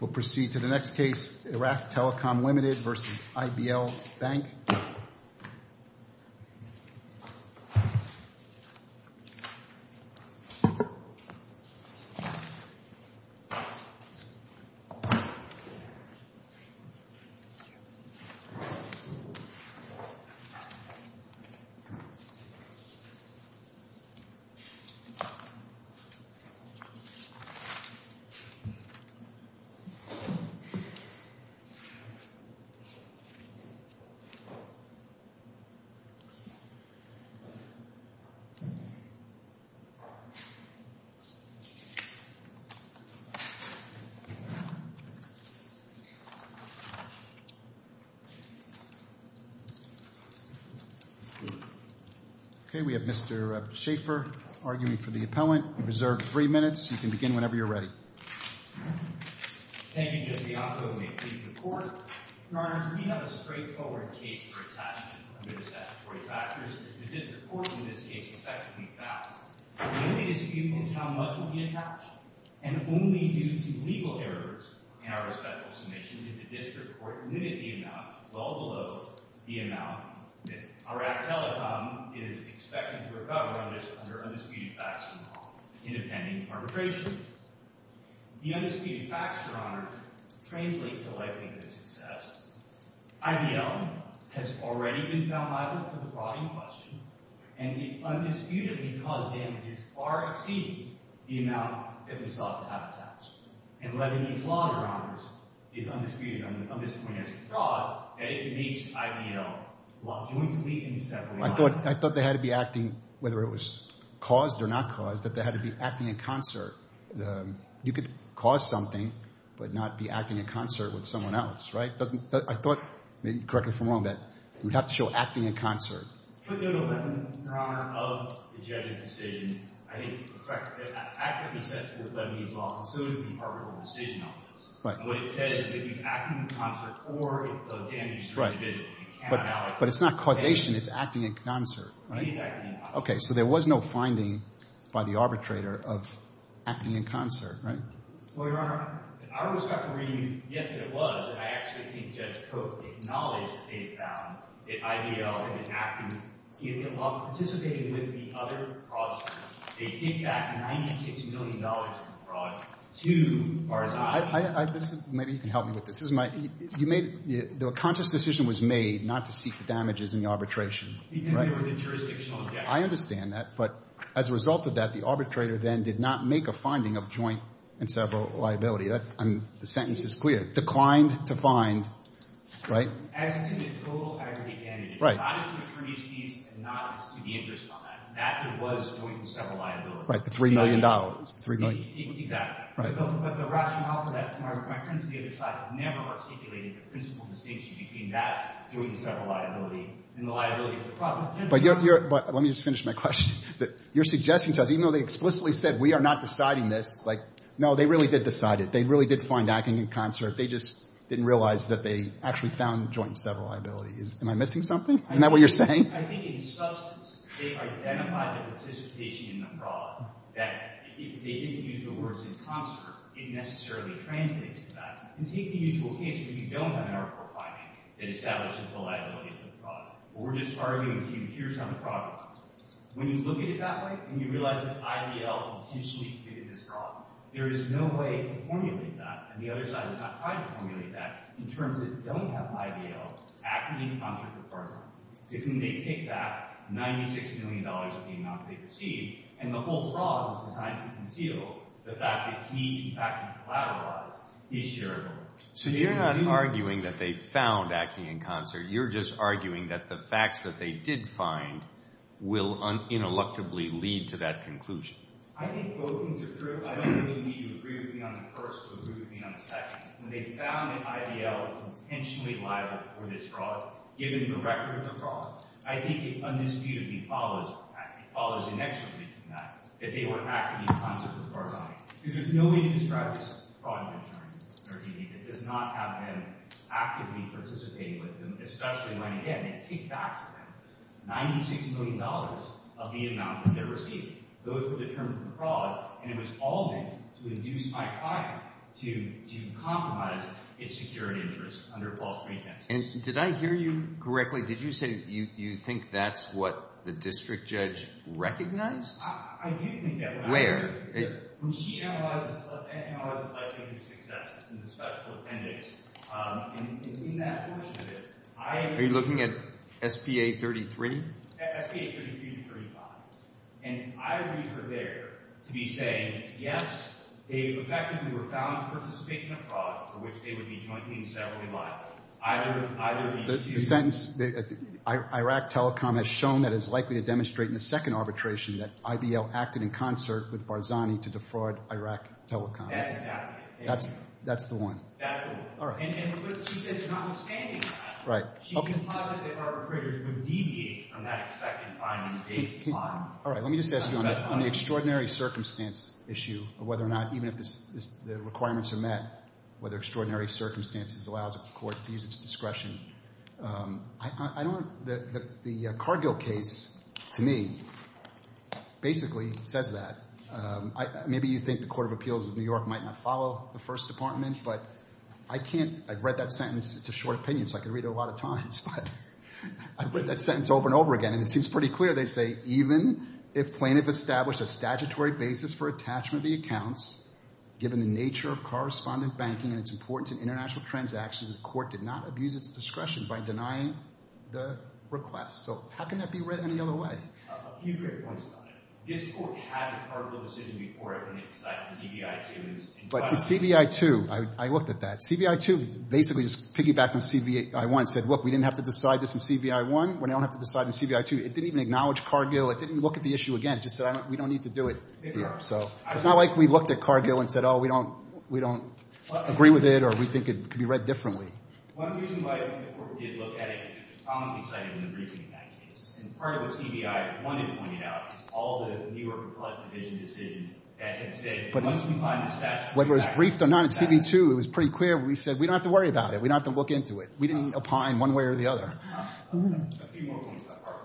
We'll proceed to the next case, Iraq Telecom Limited v. IBL Bank. Okay, we have Mr. Schaffer arguing for the appellant. You're reserved three minutes. You can begin whenever you're ready. Thank you, Judge Bianco. May it please the Court? Your Honor, we have a straightforward case for attachment under the statutory factors, as the district court in this case effectively found. The only dispute is how much will be attached, and only due to legal errors in our respective submissions did the district court limit the amount well below the amount that Iraq Telecom is expected to recover on this under undisputed facts in the pending arbitration. The undisputed facts, Your Honor, translate to the likelihood of success. IBL has already been found liable for the fraud in question, and the undisputedly caused damage is far exceeding the amount that was thought to have attached. And letting these longer honors is undisputed on this point as a fraud that it makes IBL jointly and separately liable. I thought they had to be acting, whether it was caused or not caused, that they had to be acting in concert. You could cause something, but not be acting in concert with someone else, right? I thought, maybe correct me if I'm wrong, that we'd have to show acting in concert. Your Honor, of the judge's decision, I think, correct me if I'm wrong, it's the Department of the Decision Office. But it's not causation, it's acting in concert, right? Okay, so there was no finding by the arbitrator of acting in concert, right? Well, Your Honor, in our respectful reading, yes, there was, and I actually think Judge Koch acknowledged that they had found that IBL had been acting in concert while participating with the other fraudsters. They gave back $96 million in fraud to Barzani. Maybe you can help me with this. The conscious decision was made not to seek the damages in the arbitration, right? I understand that, but as a result of that, the arbitrator then did not make a finding of joint and several liability. The sentence is clear. Declined to find, right? As did the total aggregate damages. Right. Not as attorneys' fees and not to the interest on that. That was joint and several liability. Right, the $3 million. $3 million. Exactly. Right. But the rationale for that, my friends on the other side have never articulated the principal distinction between that joint and several liability and the liability of the fraud. But let me just finish my question. You're suggesting to us, even though they explicitly said we are not deciding this, like, no, they really did decide it. They really did find acting in concert. They just didn't realize that they actually found joint and several liability. Am I missing something? Isn't that what you're saying? I think in substance, they identified the participation in the fraud that if they didn't use the words in concert, it necessarily translates to that. And take the usual case where you don't have an article finding that establishes the liability of the fraud. Or we're just arguing to you here's how the fraud goes. When you look at it that way and you realize that IBL intentionally committed this fraud, there is no way to formulate that, and the other side has not tried to formulate that, in terms that don't have IBL acting in concert with Barclay, to whom they take back $96 million of the amount they received, and the whole fraud was designed to conceal the fact that he, in fact, collateralized his share of it. So you're not arguing that they found acting in concert. You're just arguing that the facts that they did find will ineluctably lead to that conclusion. I think both things are true. I don't really need to agree with you on the first or agree with you on the second. When they found that IBL was intentionally liable for this fraud, given the record of the fraud, I think it undisputedly follows, in fact, it follows inextricably from that, that they were acting in concert with Barclay. Because there's no way to describe this fraud in our community that does not have them actively participating with them, especially when, again, they take back $96 million of the amount that they received. Those were the terms of the fraud, and it was all meant to induce my client to compromise its security interests under false pretenses. And did I hear you correctly? Did you say you think that's what the district judge recognized? I do think that. Where? When she analyzes life-changing successes in the special appendix, in that portion of it, I am— Are you looking at SPA 33? SPA 33 to 35. And I read her there to be saying, yes, they effectively were found to participate in a fraud for which they would be jointly and separately liable. Either these two— The sentence, Iraq Telecom has shown that it's likely to demonstrate in the second arbitration that IBL acted in concert with Barzani to defraud Iraq Telecom. That's exactly it. That's the one. That's the one. All right. And she said it's notwithstanding that. Right. She implied that the arbitrators would deviate from that expected finding at that time. All right. Let me just ask you on the extraordinary circumstance issue of whether or not, even if the requirements are met, whether extraordinary circumstances allows a court to use its discretion. I don't—the Cargill case, to me, basically says that. Maybe you think the Court of Appeals of New York might not follow the First Department, but I can't—I've read that sentence. It's a short opinion, so I can read it a lot of times. But I've read that sentence over and over again, and it seems pretty clear. They say, even if plaintiff established a statutory basis for attachment of the accounts, given the nature of correspondent banking and its importance in international transactions, the court did not abuse its discretion by denying the request. So how can that be read any other way? A few great points about it. This court has heard the decision before it, and it's like the CBI, too. But the CBI, too, I looked at that. CBI, too, basically just piggybacked on CBI 1 and said, look, we didn't have to decide this in CBI 1. We don't have to decide in CBI 2. It didn't even acknowledge Cargill. It didn't look at the issue again. It just said, we don't need to do it here. So it's not like we looked at Cargill and said, oh, we don't agree with it or we think it could be read differently. One reason why the court did look at it is because it's commonly cited in the briefing in that case. And part of what CBI 1 had pointed out is all the New York Collective Vision decisions that had said, once we find the statute, we back it up. Whether it was briefed or not, in CBI 2, it was pretty clear. We said, we don't have to worry about it. We don't have to look into it. We didn't opine one way or the other. A few more points about Cargill.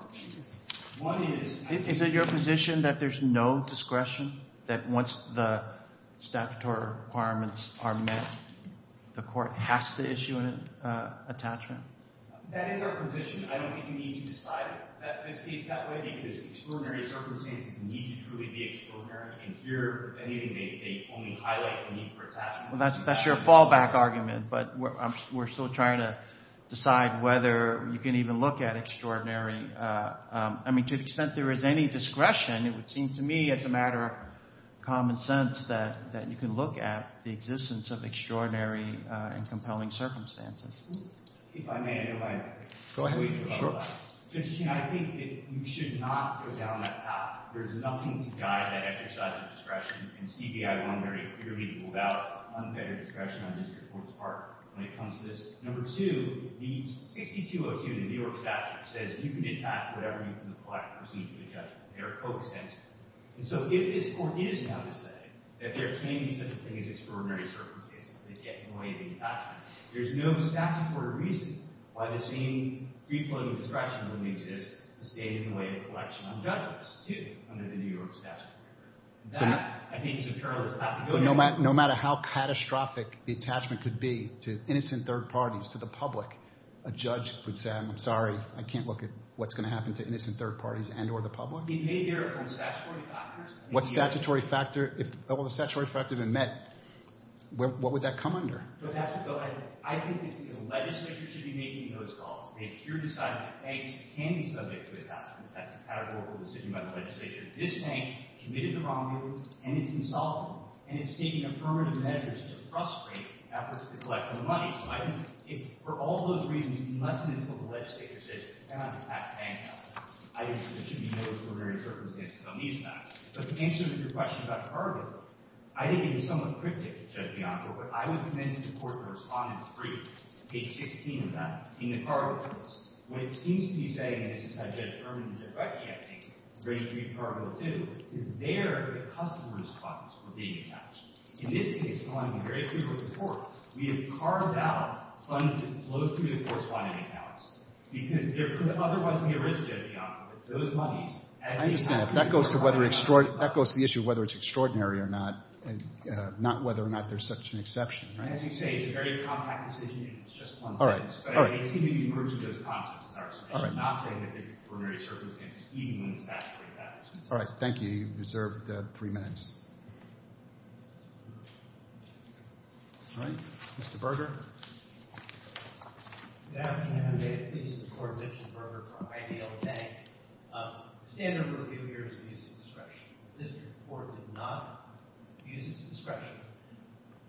The court has to issue an attachment. That is our position. I don't think you need to decide this case that way because extraordinary circumstances need to truly be extraordinary. And here, they only highlight the need for attachment. Well, that's your fallback argument. But we're still trying to decide whether you can even look at extraordinary. I mean, to the extent there is any discretion, it would seem to me it's a matter of common sense that you can look at. The existence of extraordinary and compelling circumstances. If I may, I don't mind. Go ahead. I think that you should not go down that path. There is nothing to guide that exercise of discretion. And CBI 1 very clearly ruled out unfettered discretion on district court's part when it comes to this. Number two, the 6202 in the New York statute says you can attach whatever you from the Collective Procedure to the judgment. There are co-extensions. And so if this court is now to say that there can be such a thing as extraordinary circumstances, they get in the way of the attachment. There's no statutory reason why the same free-floating discretion wouldn't exist to stay in the way of a correction on judges, too, under the New York statute. That, I think, is a parallel. But no matter how catastrophic the attachment could be to innocent third parties, to the public, a judge would say, I'm sorry, I can't look at what's going to happen to innocent third parties and or the public? It may bear on statutory factors. What statutory factor? If all the statutory factors had been met, what would that come under? I think that the legislature should be making those calls. They should decide that banks can be subject to attachment. That's a categorical decision by the legislature. This bank committed the wrongdoing, and it's insolvent, and it's taking affirmative measures to frustrate efforts to collect the money. For all those reasons, unless and until the legislature says, you cannot attach bank assets, I think there should be no preliminary circumstances on these facts. But to answer your question about the car bill, I think it is somewhat cryptic, Judge Bianco, but I would commend the court for responding to page 16 of that in the car bill. When it seems to be saying, and this is how Judge Berman did it rightly, I think, in grade 3 of car bill 2, is there the customer response for being attached. In this case, in grade 3 of the report, we have carved out funds to flow through the corresponding accounts. Because there could otherwise be a risk, Judge Bianco, that those monies, as they come out of the car bill. I understand. That goes to the issue of whether it's extraordinary or not, and not whether or not there's such an exception. As you say, it's a very compact decision, and it's just one sentence. All right. All right. But it seems to be emerging those concepts. All right. I'm not saying that there are preliminary circumstances, even when it's statutory factors. All right. Thank you. You're reserved three minutes. All right. Mr. Berger. Good afternoon. David Pease of the court. Mitchell Berger for IDL Bank. The standard rule here is abuse of discretion. This report did not abuse its discretion.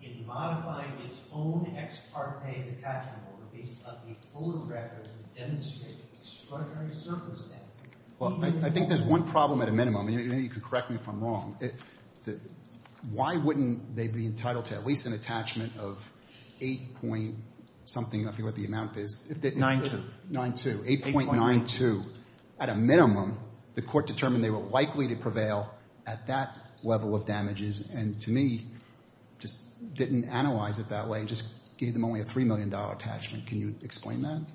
In modifying its own ex parte de facto release of the full record, it demonstrated extraordinary circumstances. Well, I think there's one problem at a minimum. Maybe you can correct me if I'm wrong. Why wouldn't they be entitled to at least an attachment of 8-point-something, I forget what the amount is. 9-2. 9-2. 8.92. At a minimum, the court determined they were likely to prevail at that level of damages, and to me, just didn't analyze it that way, just gave them only a $3 million attachment. Can you explain that?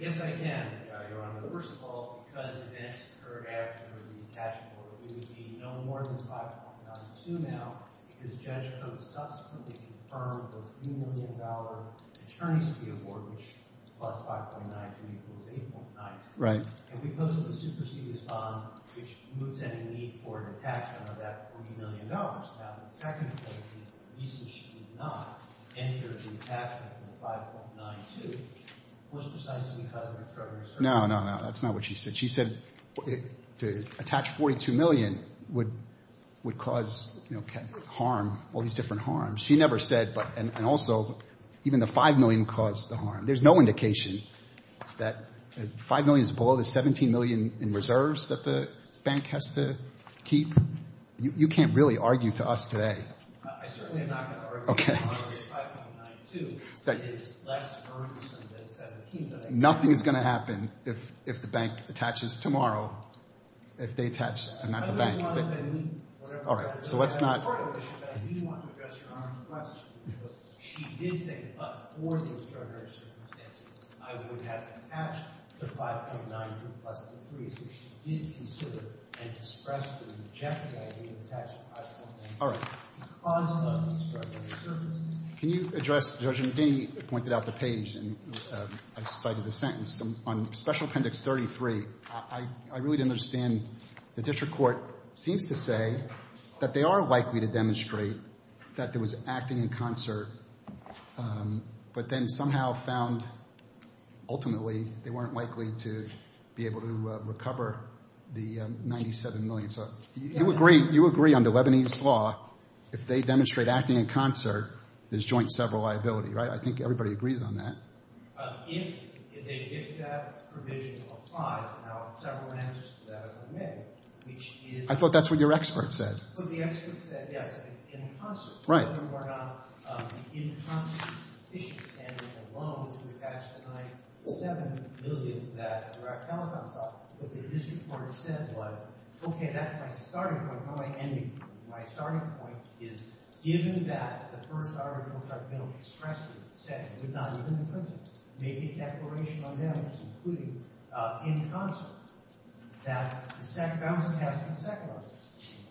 Yes, I can, Your Honor. First of all, because events occurred after the attachment order, it would be no more than 5.92 now, because Judge Coates subsequently confirmed the $3 million attorneys to be on board, which plus 5.92 equals 8.92. Right. And because of the supersedious bond, which moves any need for an attachment of that $3 million. Now, the second point is the reason should be denied. No, no, no, that's not what she said. She said to attach $42 million would cause harm, all these different harms. She never said, and also, even the $5 million caused the harm. There's no indication that $5 million is below the $17 million in reserves that the bank has to keep. You can't really argue to us today. I certainly am not going to argue to you. Okay. $5.92 is less harm than $17 million. Nothing is going to happen if the bank attaches tomorrow. If they attach, not the bank. All right, so let's not. I do want to address Your Honor's question. She did say, but for the extraordinary circumstances, I would have attached the 5.92 plus the 3, because she did consider and express the rejected idea of attaching 5.92. All right. It caused an undescribed amount of service. Can you address, Judge McDinney pointed out the page, and I cited a sentence. On Special Appendix 33, I really didn't understand. The district court seems to say that they are likely to demonstrate that there was acting in concert, but then somehow found, ultimately, they weren't likely to be able to recover the $97 million. So you agree under Lebanese law, if they demonstrate acting in concert, there's joint sever liability, right? I think everybody agrees on that. If that provision applies, and I'll have several answers to that if I may, which is— I thought that's what your expert said. The expert said, yes, it's in concert. Right. I don't know whether or not the in concert is sufficient standard alone to attach the $97 million that the direct telephone saw. What the district court said was, okay, that's my starting point. How do I end it? My starting point is, given that the first arbitral tribunal expressly said it would not live in the prison, made a declaration on them, which is including in concert, that bouncing has to be seconded.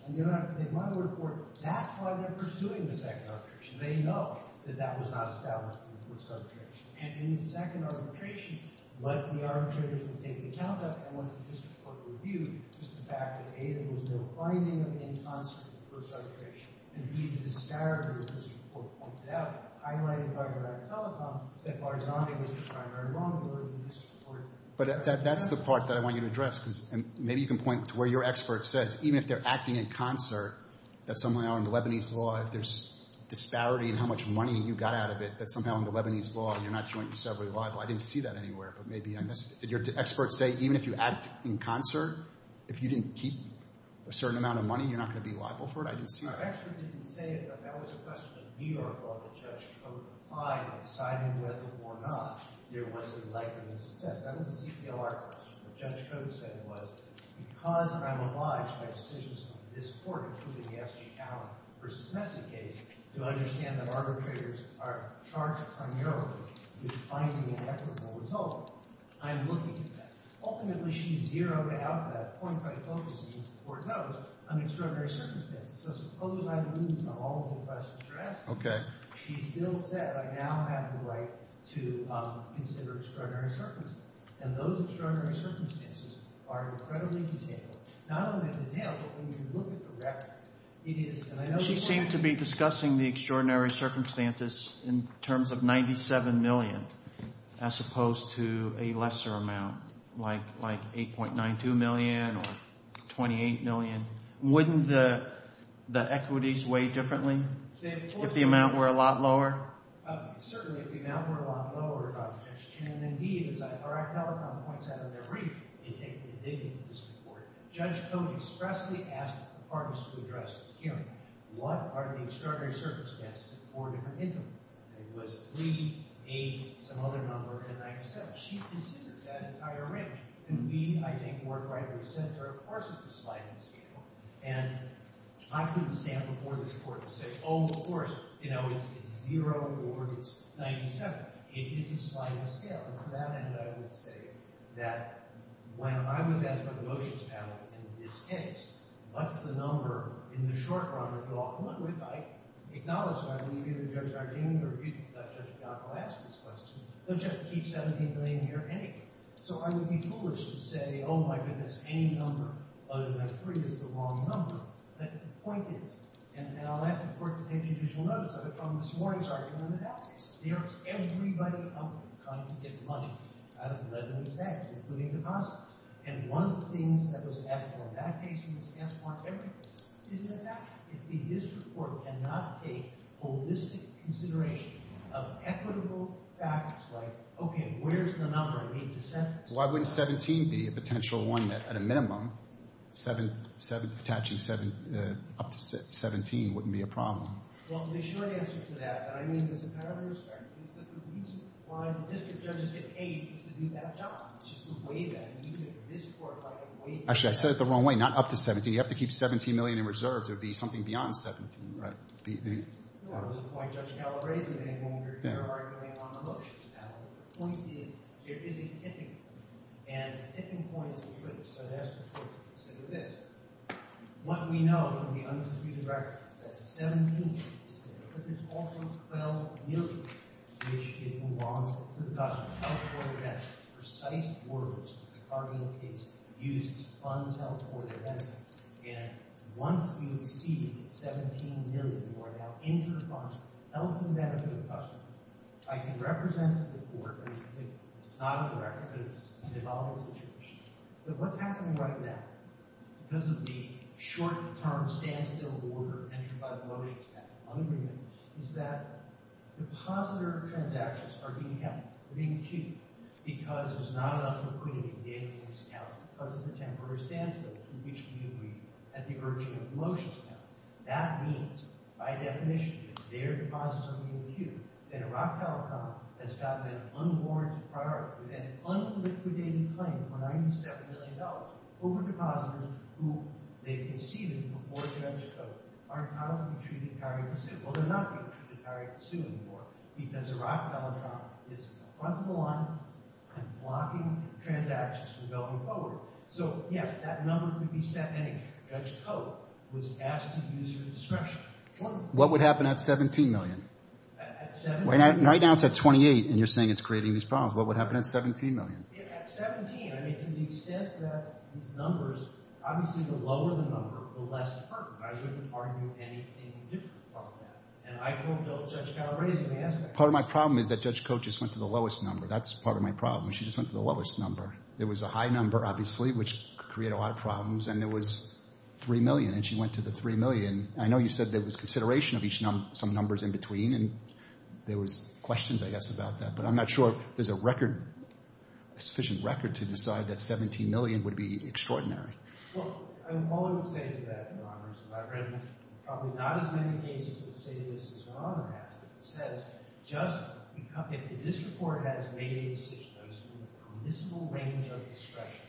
And you don't have to take my report. That's why they're pursuing the second arbitration. They know that that was not established in the first arbitration. And in the second arbitration, what the arbitrators will take into account of and what the district court will view is the fact that, A, there was no binding in concert in the first arbitration. And, B, the disparity of this report pointed out, highlighted by the direct telephone, that Barzani was the primary wrongdoer of the district court. But that's the part that I want you to address, because maybe you can point to where your expert says, even if they're acting in concert, that's somehow in the Lebanese law. If there's disparity in how much money you got out of it, that's somehow in the Lebanese law, and you're not jointly, separately liable. I didn't see that anywhere, but maybe I missed it. Did your expert say, even if you act in concert, if you didn't keep a certain amount of money, you're not going to be liable for it? I didn't see that. No, the expert didn't say it. That was a question of New York law that Judge Cote replied and decided whether or not there was a likelihood of success. That was a CPL argument. What Judge Cote said was, because I'm obliged by decisions of this court, including the S.G. Allen v. Messick case, to understand that arbitrators are charged primarily with finding an equitable result, I'm looking at that. Ultimately, she zeroed out that point by focusing, the court knows, on extraordinary circumstances. So suppose I lose on all of the questions you're asking. She still said, I now have the right to consider extraordinary circumstances. And those extraordinary circumstances are incredibly detailed. Not only detailed, but when you look at the record, it is. She seemed to be discussing the extraordinary circumstances in terms of $97 million as opposed to a lesser amount, like $8.92 million or $28 million. Wouldn't the equities weigh differently if the amount were a lot lower? Certainly, if the amount were a lot lower. And then he, as I've already pointed out in the brief, indicated in this report, Judge Cote expressly asked the parties to address this hearing. What are the extraordinary circumstances in four different intervals? It was 3, 8, some other number, and 97. She considers that entire range. And we, I think, work right in the center. Of course, it's a sliding scale. And I couldn't stand before this court and say, oh, of course. You know, it's 0 or it's 97. It is a sliding scale. And to that end, I would say that when I was asked by the motions panel, in this case, what's the number in the short run that we'll all come up with, I acknowledged it. I mean, either Judge Ardine or Judge Gattel asked this question. Don't you have to keep $17 million here anyway? So I would be foolish to say, oh, my goodness, any number other than 3 is the wrong number. But the point is, and I'll ask the court to take judicial notice. Judicial notice of it from this morning's argument in the back case. There is everybody out there trying to get money out of Levin and his banks, including deposits. And one of the things that was asked for in that case, and was asked for in every case, is the fact that the district court cannot take holistic consideration of equitable factors like, okay, where's the number I need to send this? Why wouldn't 17 be a potential one that, at a minimum, attaching up to 17 wouldn't be a problem? Well, the short answer to that, and I mean this in kind of a respect, is that the reason why the district judges get paid is to do that job, just to weigh that. You can, in this court, weigh that. Actually, I said it the wrong way. Not up to 17. You have to keep $17 million in reserves, or it would be something beyond 17. Right? No, that was the point Judge Gattel raised in a moment earlier, arguing on the motions. The point is, there is a tipping point. And a tipping point is a cliff. So I asked the court to consider this. What we know from the undisputed record is that 17 is the number, but there's also 12 million, which should move on to the customers. That's precise words in the cardinal case used to fund health or the benefit. And once we see 17 million who are now inter-funded, health and benefit customers, I can represent the court. It's not on the record, but it's a development situation. But what's happening right now, because of the short-term standstill order entered by the motions, that un-agreement, is that depositor transactions are being held, are being queued, because there's not enough liquidity in data-based accounts, because of the temporary standstill to which we agreed at the urging of the motions. That means, by definition, that their deposits are being queued, and a rock-tile account has gotten an unwarranted priority. The court presented an un-liquidated claim for $97 million over depositors who they've conceded before Judge Koch are now going to be treated prior to suing. Well, they're not going to be treated prior to suing anymore, because a rock-tile account is fronting the line and blocking transactions from going forward. So, yes, that number could be set anyway. Judge Koch was asked to use it for discretion. What would happen at 17 million? At 17? Right now it's at 28, and you're saying it's creating these problems. What would happen at 17 million? At 17, I mean, to the extent that these numbers, obviously the lower the number, the less certain. I wouldn't argue anything different about that. And I don't know if Judge Calabresi is going to answer that question. Part of my problem is that Judge Koch just went to the lowest number. That's part of my problem. She just went to the lowest number. There was a high number, obviously, which created a lot of problems, and there was 3 million, and she went to the 3 million. I know you said there was consideration of some numbers in between, and there was questions, I guess, about that. But I'm not sure there's a record, sufficient record, to decide that 17 million would be extraordinary. Well, all I would say to that, Your Honor, is that I've read probably not as many cases that say this as Your Honor has, but it says just if the district court has made a decision that is in the permissible range of discretion,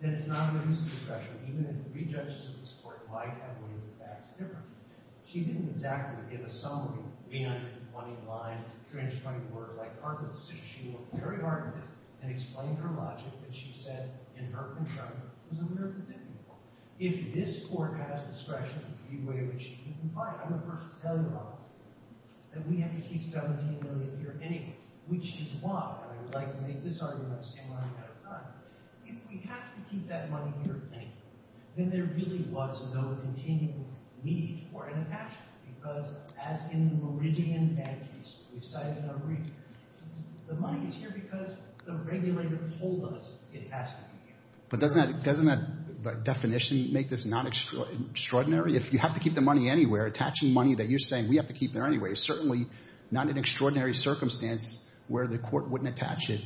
then it's not a reason for discretion, even if three judges in this Court might have weighed the facts differently. She didn't exactly give a summary of 320 lines, she looked very hard at it, and explained her logic, and she said in her concern it was a little bit difficult. If this Court has discretion, the way in which it can comply, I'm the first to tell you, Your Honor, that we have to keep 17 million here anyway, which is why I would like to make this argument on the same line that I've done. If we have to keep that money here anyway, then there really was no continual need for an attachment, because as in the Meridian case, we've cited in our brief, the money is here because the regulator told us it has to be here. But doesn't that definition make this not extraordinary? If you have to keep the money anywhere, attaching money that you're saying we have to keep there anyway, is certainly not an extraordinary circumstance where the Court wouldn't attach it.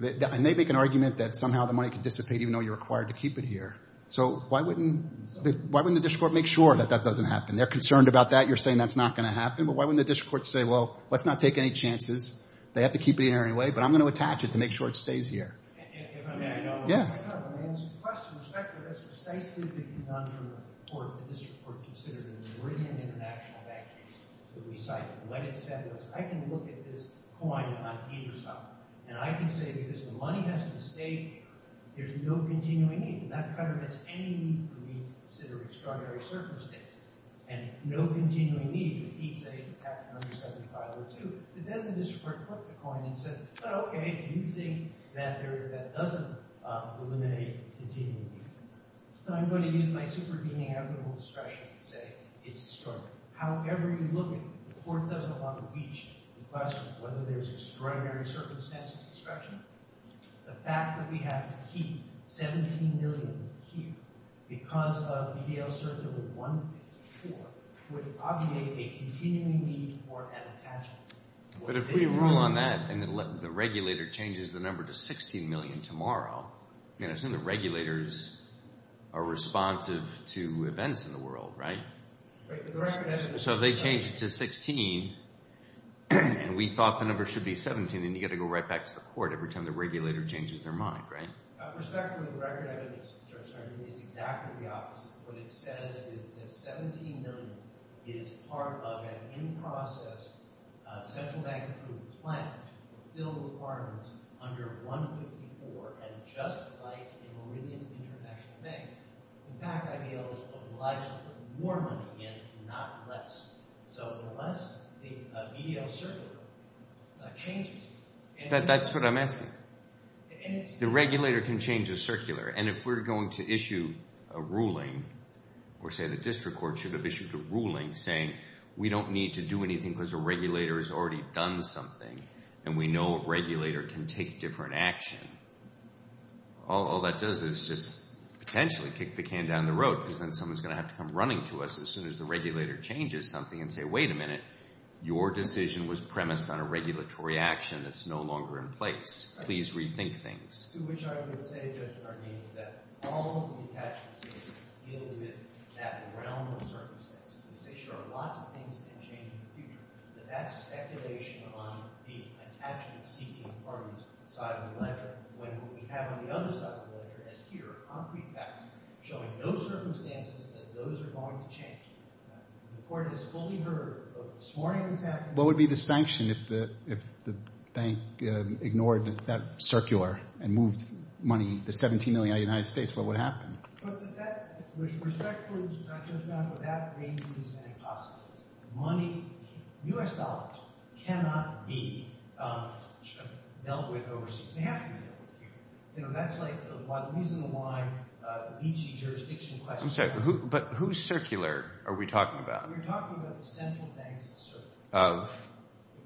And they make an argument that somehow the money can dissipate even though you're required to keep it here. So why wouldn't the district court make sure that that doesn't happen? And they're concerned about that. You're saying that's not going to happen. But why wouldn't the district court say, well, let's not take any chances. They have to keep it here anyway, but I'm going to attach it to make sure it stays here. If I may, Your Honor. Yeah. I kind of want to answer your question with respect to this precisely the conundrum that the district court considered in the Meridian international bank case that we cited. What it said was, I can look at this coin on either side, and I can say because the money has to stay here, there's no continuing need. That kind of has any need for me to consider extraordinary circumstances. And no continuing need would be to say, it's attached to number 7502. But then the district court took the coin and said, well, OK, you think that doesn't eliminate continuing need. So I'm going to use my superdemeanable discretion to say it's extraordinary. However you look at it, the Court doesn't want to reach the question of whether there's extraordinary circumstances discretion. The fact that we have to keep $17 million here because of EDL certificate 154 would obviate a continuing need for an attachment. But if we rule on that, and the regulator changes the number to $16 million tomorrow, I assume the regulators are responsive to events in the world, right? So if they change it to $16, and we thought the number should be $17, then you've got to go right back to the Court every time the regulator changes their mind, right? Respectfully, the record is exactly the opposite. What it says is that $17 million is part of an in-process central bank group plan to fulfill the requirements under 154, and just like in Meridian International Bank, impact IDL is obliged to put more money in, not less. So unless the EDL certificate changes, that's what I'm asking. The regulator can change the circular, and if we're going to issue a ruling, or say the district court should have issued a ruling saying we don't need to do anything because a regulator has already done something, and we know a regulator can take different action, all that does is just potentially kick the can down the road because then someone's going to have to come running to us as soon as the regulator changes something and say, wait a minute, your decision was premised on a regulatory action that's no longer in place. Please rethink things. To which I would say, Judge Arnene, that all of the attachments deal with that realm of circumstances. They show lots of things can change in the future, but that's speculation on the attachment-seeking part of the side of the ledger, when what we have on the other side of the ledger is here, concrete facts showing no circumstances that those are going to change. The court has fully heard this morning and this afternoon. What would be the sanction if the bank ignored that circular and moved money, the $17 million out of the United States? What would happen? But that, with respect to Judge Brown, that raises an impossibility. Money, U.S. dollars, cannot be dealt with overseas. They have to be dealt with here. That's the reason why each jurisdiction question. I'm sorry, but who's circular are we talking about? We're talking about the central banks of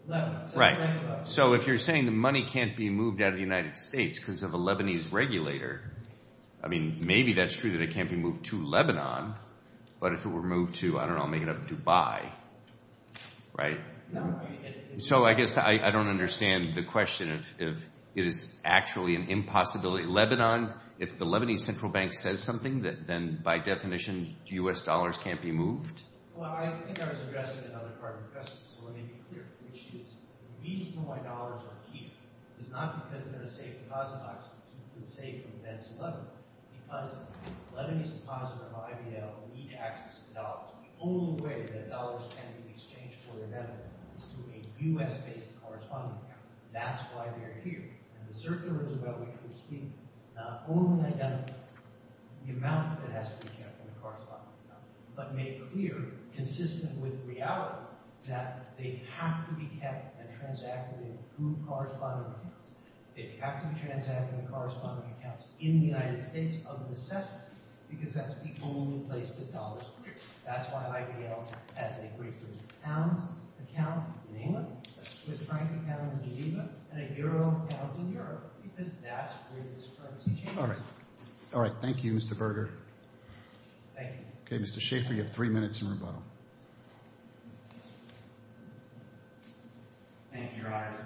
Lebanon. Right. So if you're saying the money can't be moved out of the United States because of a Lebanese regulator, I mean, maybe that's true that it can't be moved to Lebanon, but if it were moved to, I don't know, I'll make it up, Dubai, right? So I guess I don't understand the question if it is actually an impossibility. Lebanon, if the Lebanese central bank says something, then, by definition, U.S. dollars can't be moved? Well, I think I was addressing another part of your question, so let me be clear, which is the reason why dollars are here is not because they're a safe deposit box that people can save from debts in Lebanon. Because the Lebanese deposit or IVL need access to dollars. The only way that dollars can be exchanged for their debt is through a U.S.-based corresponding account. That's why they're here. And the circular is about which jurisdiction, not only identifying the amount that has to be kept in the corresponding account, but make clear, consistent with reality, that they have to be kept and transacted in whose corresponding accounts. They have to be transacted in the corresponding accounts in the United States of necessity, because that's the only place that dollars are here. That's why IVL has a great group of accounts, an account in England, a Swiss franc account in Geneva, and a euro account in Europe, because that's where this currency came from. All right. All right, thank you, Mr. Berger. Thank you. Okay, Mr. Schaffer, you have three minutes in rebuttal. Thank you, Your Honor.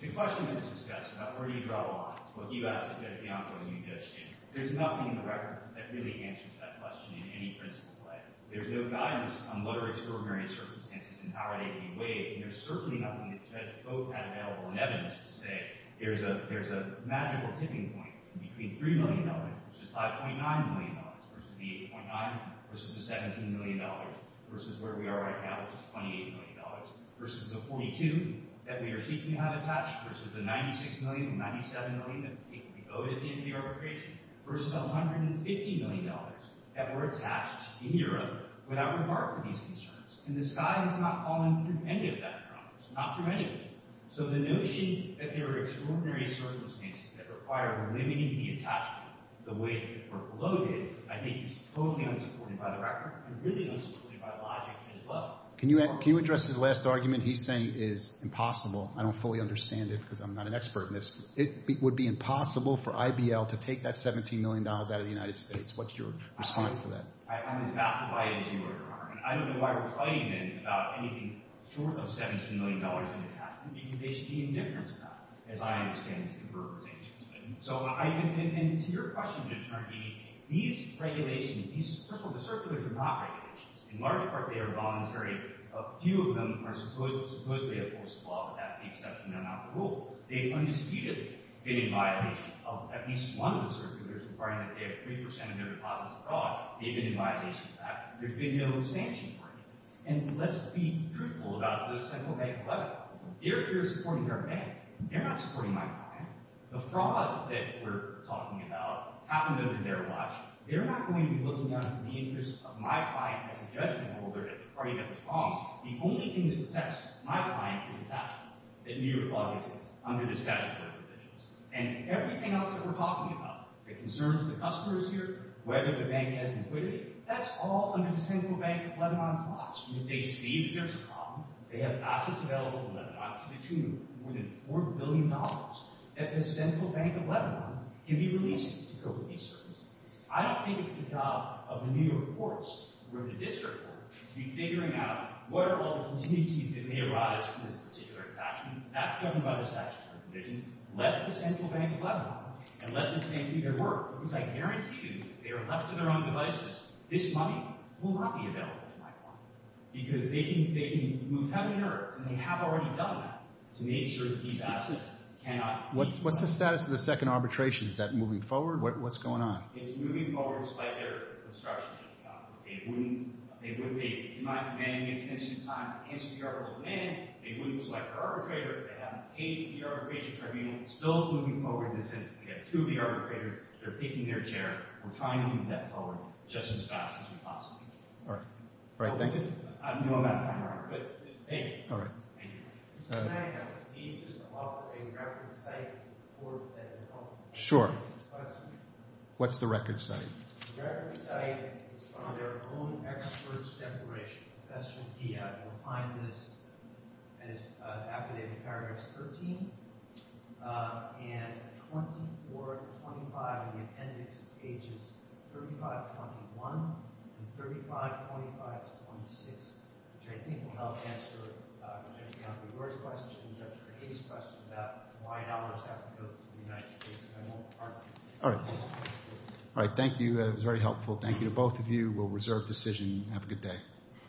The question that was discussed about where do you draw the line to what you asked of Judge Bianco and Judge Schaffer, there's nothing in the record that really answers that question in any principled way. There's no guidance on what are extraordinary circumstances and how are they to be weighed, and there's certainly nothing that Judge Koch had available in evidence to say there's a magical tipping point between $3 million, which is $5.9 million, versus the $8.9 million, versus the $17 million, versus where we are right now, which is $28 million, versus the $42 million that we are seeking to have attached, versus the $96 million and $97 million that we go to at the end of the arbitration, versus $150 million that were attached in Europe without regard for these concerns. And the sky has not fallen through any of that problems, not through any of them. So the notion that there are extraordinary circumstances that require limiting the attachment the way that it were loaded, I think is totally unsupported by the record and really unsupported by logic as well. Can you address his last argument? He's saying it's impossible. I don't fully understand it because I'm not an expert in this. It would be impossible for IBL to take that $17 million out of the United States. What's your response to that? I'm as baffled by it as you are, Your Honor. I don't know why we're fighting then about anything short of $17 million in attachment because they should be indifferent to that, as I understand these converterizations. And to your question, Your Honor, these circulars are not regulations. In large part, they are voluntary. A few of them are supposedly opposed to the law, but that's the exception. They're not the rule. They've undisputedly been in violation of at least one of the circulars requiring that they have 3% of their deposits abroad. They've been in violation of that. There's been no sanction for it. And let's be truthful about the Central Bank of Lebanon. They're here supporting their bank. They're not supporting my client. The fraud that we're talking about happened under their watch. They're not going to be looking at the interests of my client as a judgment holder that's afraid of the fraud. The only thing that protects my client is the attachment that New York Law gives them under the statutory provisions. And everything else that we're talking about, the concerns of the customers here, whether the bank has an equity, that's all under the Central Bank of Lebanon clause. And if they see that there's a problem, they have assets available in Lebanon to the tune of more than $4 billion that the Central Bank of Lebanon can be released to cope with these services. I don't think it's the job of the New York courts or the district court to be figuring out what are all the contingencies that may arise from this particular attachment. That's governed by the statutory provisions. Let the Central Bank of Lebanon and let this bank do their work, because I guarantee you, if they are left to their own devices, this money will not be available to my client. Because they can move heaven and earth, and they have already done that, to make sure that these assets cannot be... What's the status of the second arbitration? Is that moving forward? What's going on? It's moving forward, despite their construction. They do not have demanding extension time to answer the arbitral demand. They wouldn't select their arbitrator. They haven't paid the arbitration tribunal. It's still moving forward. We have two of the arbitrators. They're picking their chair. We're trying to move that forward just as fast as we possibly can. All right. All right, thank you. I don't know about time or hour, but thank you. All right. Can I ask, can you just offer a record of sight for the court at the moment? Sure. What's the record of sight? The record of sight is from their own experts' declaration. Professor Diab will find this after they have paragraphs 13 and 24 to 25 in the appendix pages 35 to 21 and 35 to 25 to 26, which I think will help answer Judge McGonigal's question, Judge Cahay's question about why dollars have to go to the United States. All right. All right, thank you. That was very helpful. Thank you to both of you. We'll reserve decision. Have a good day.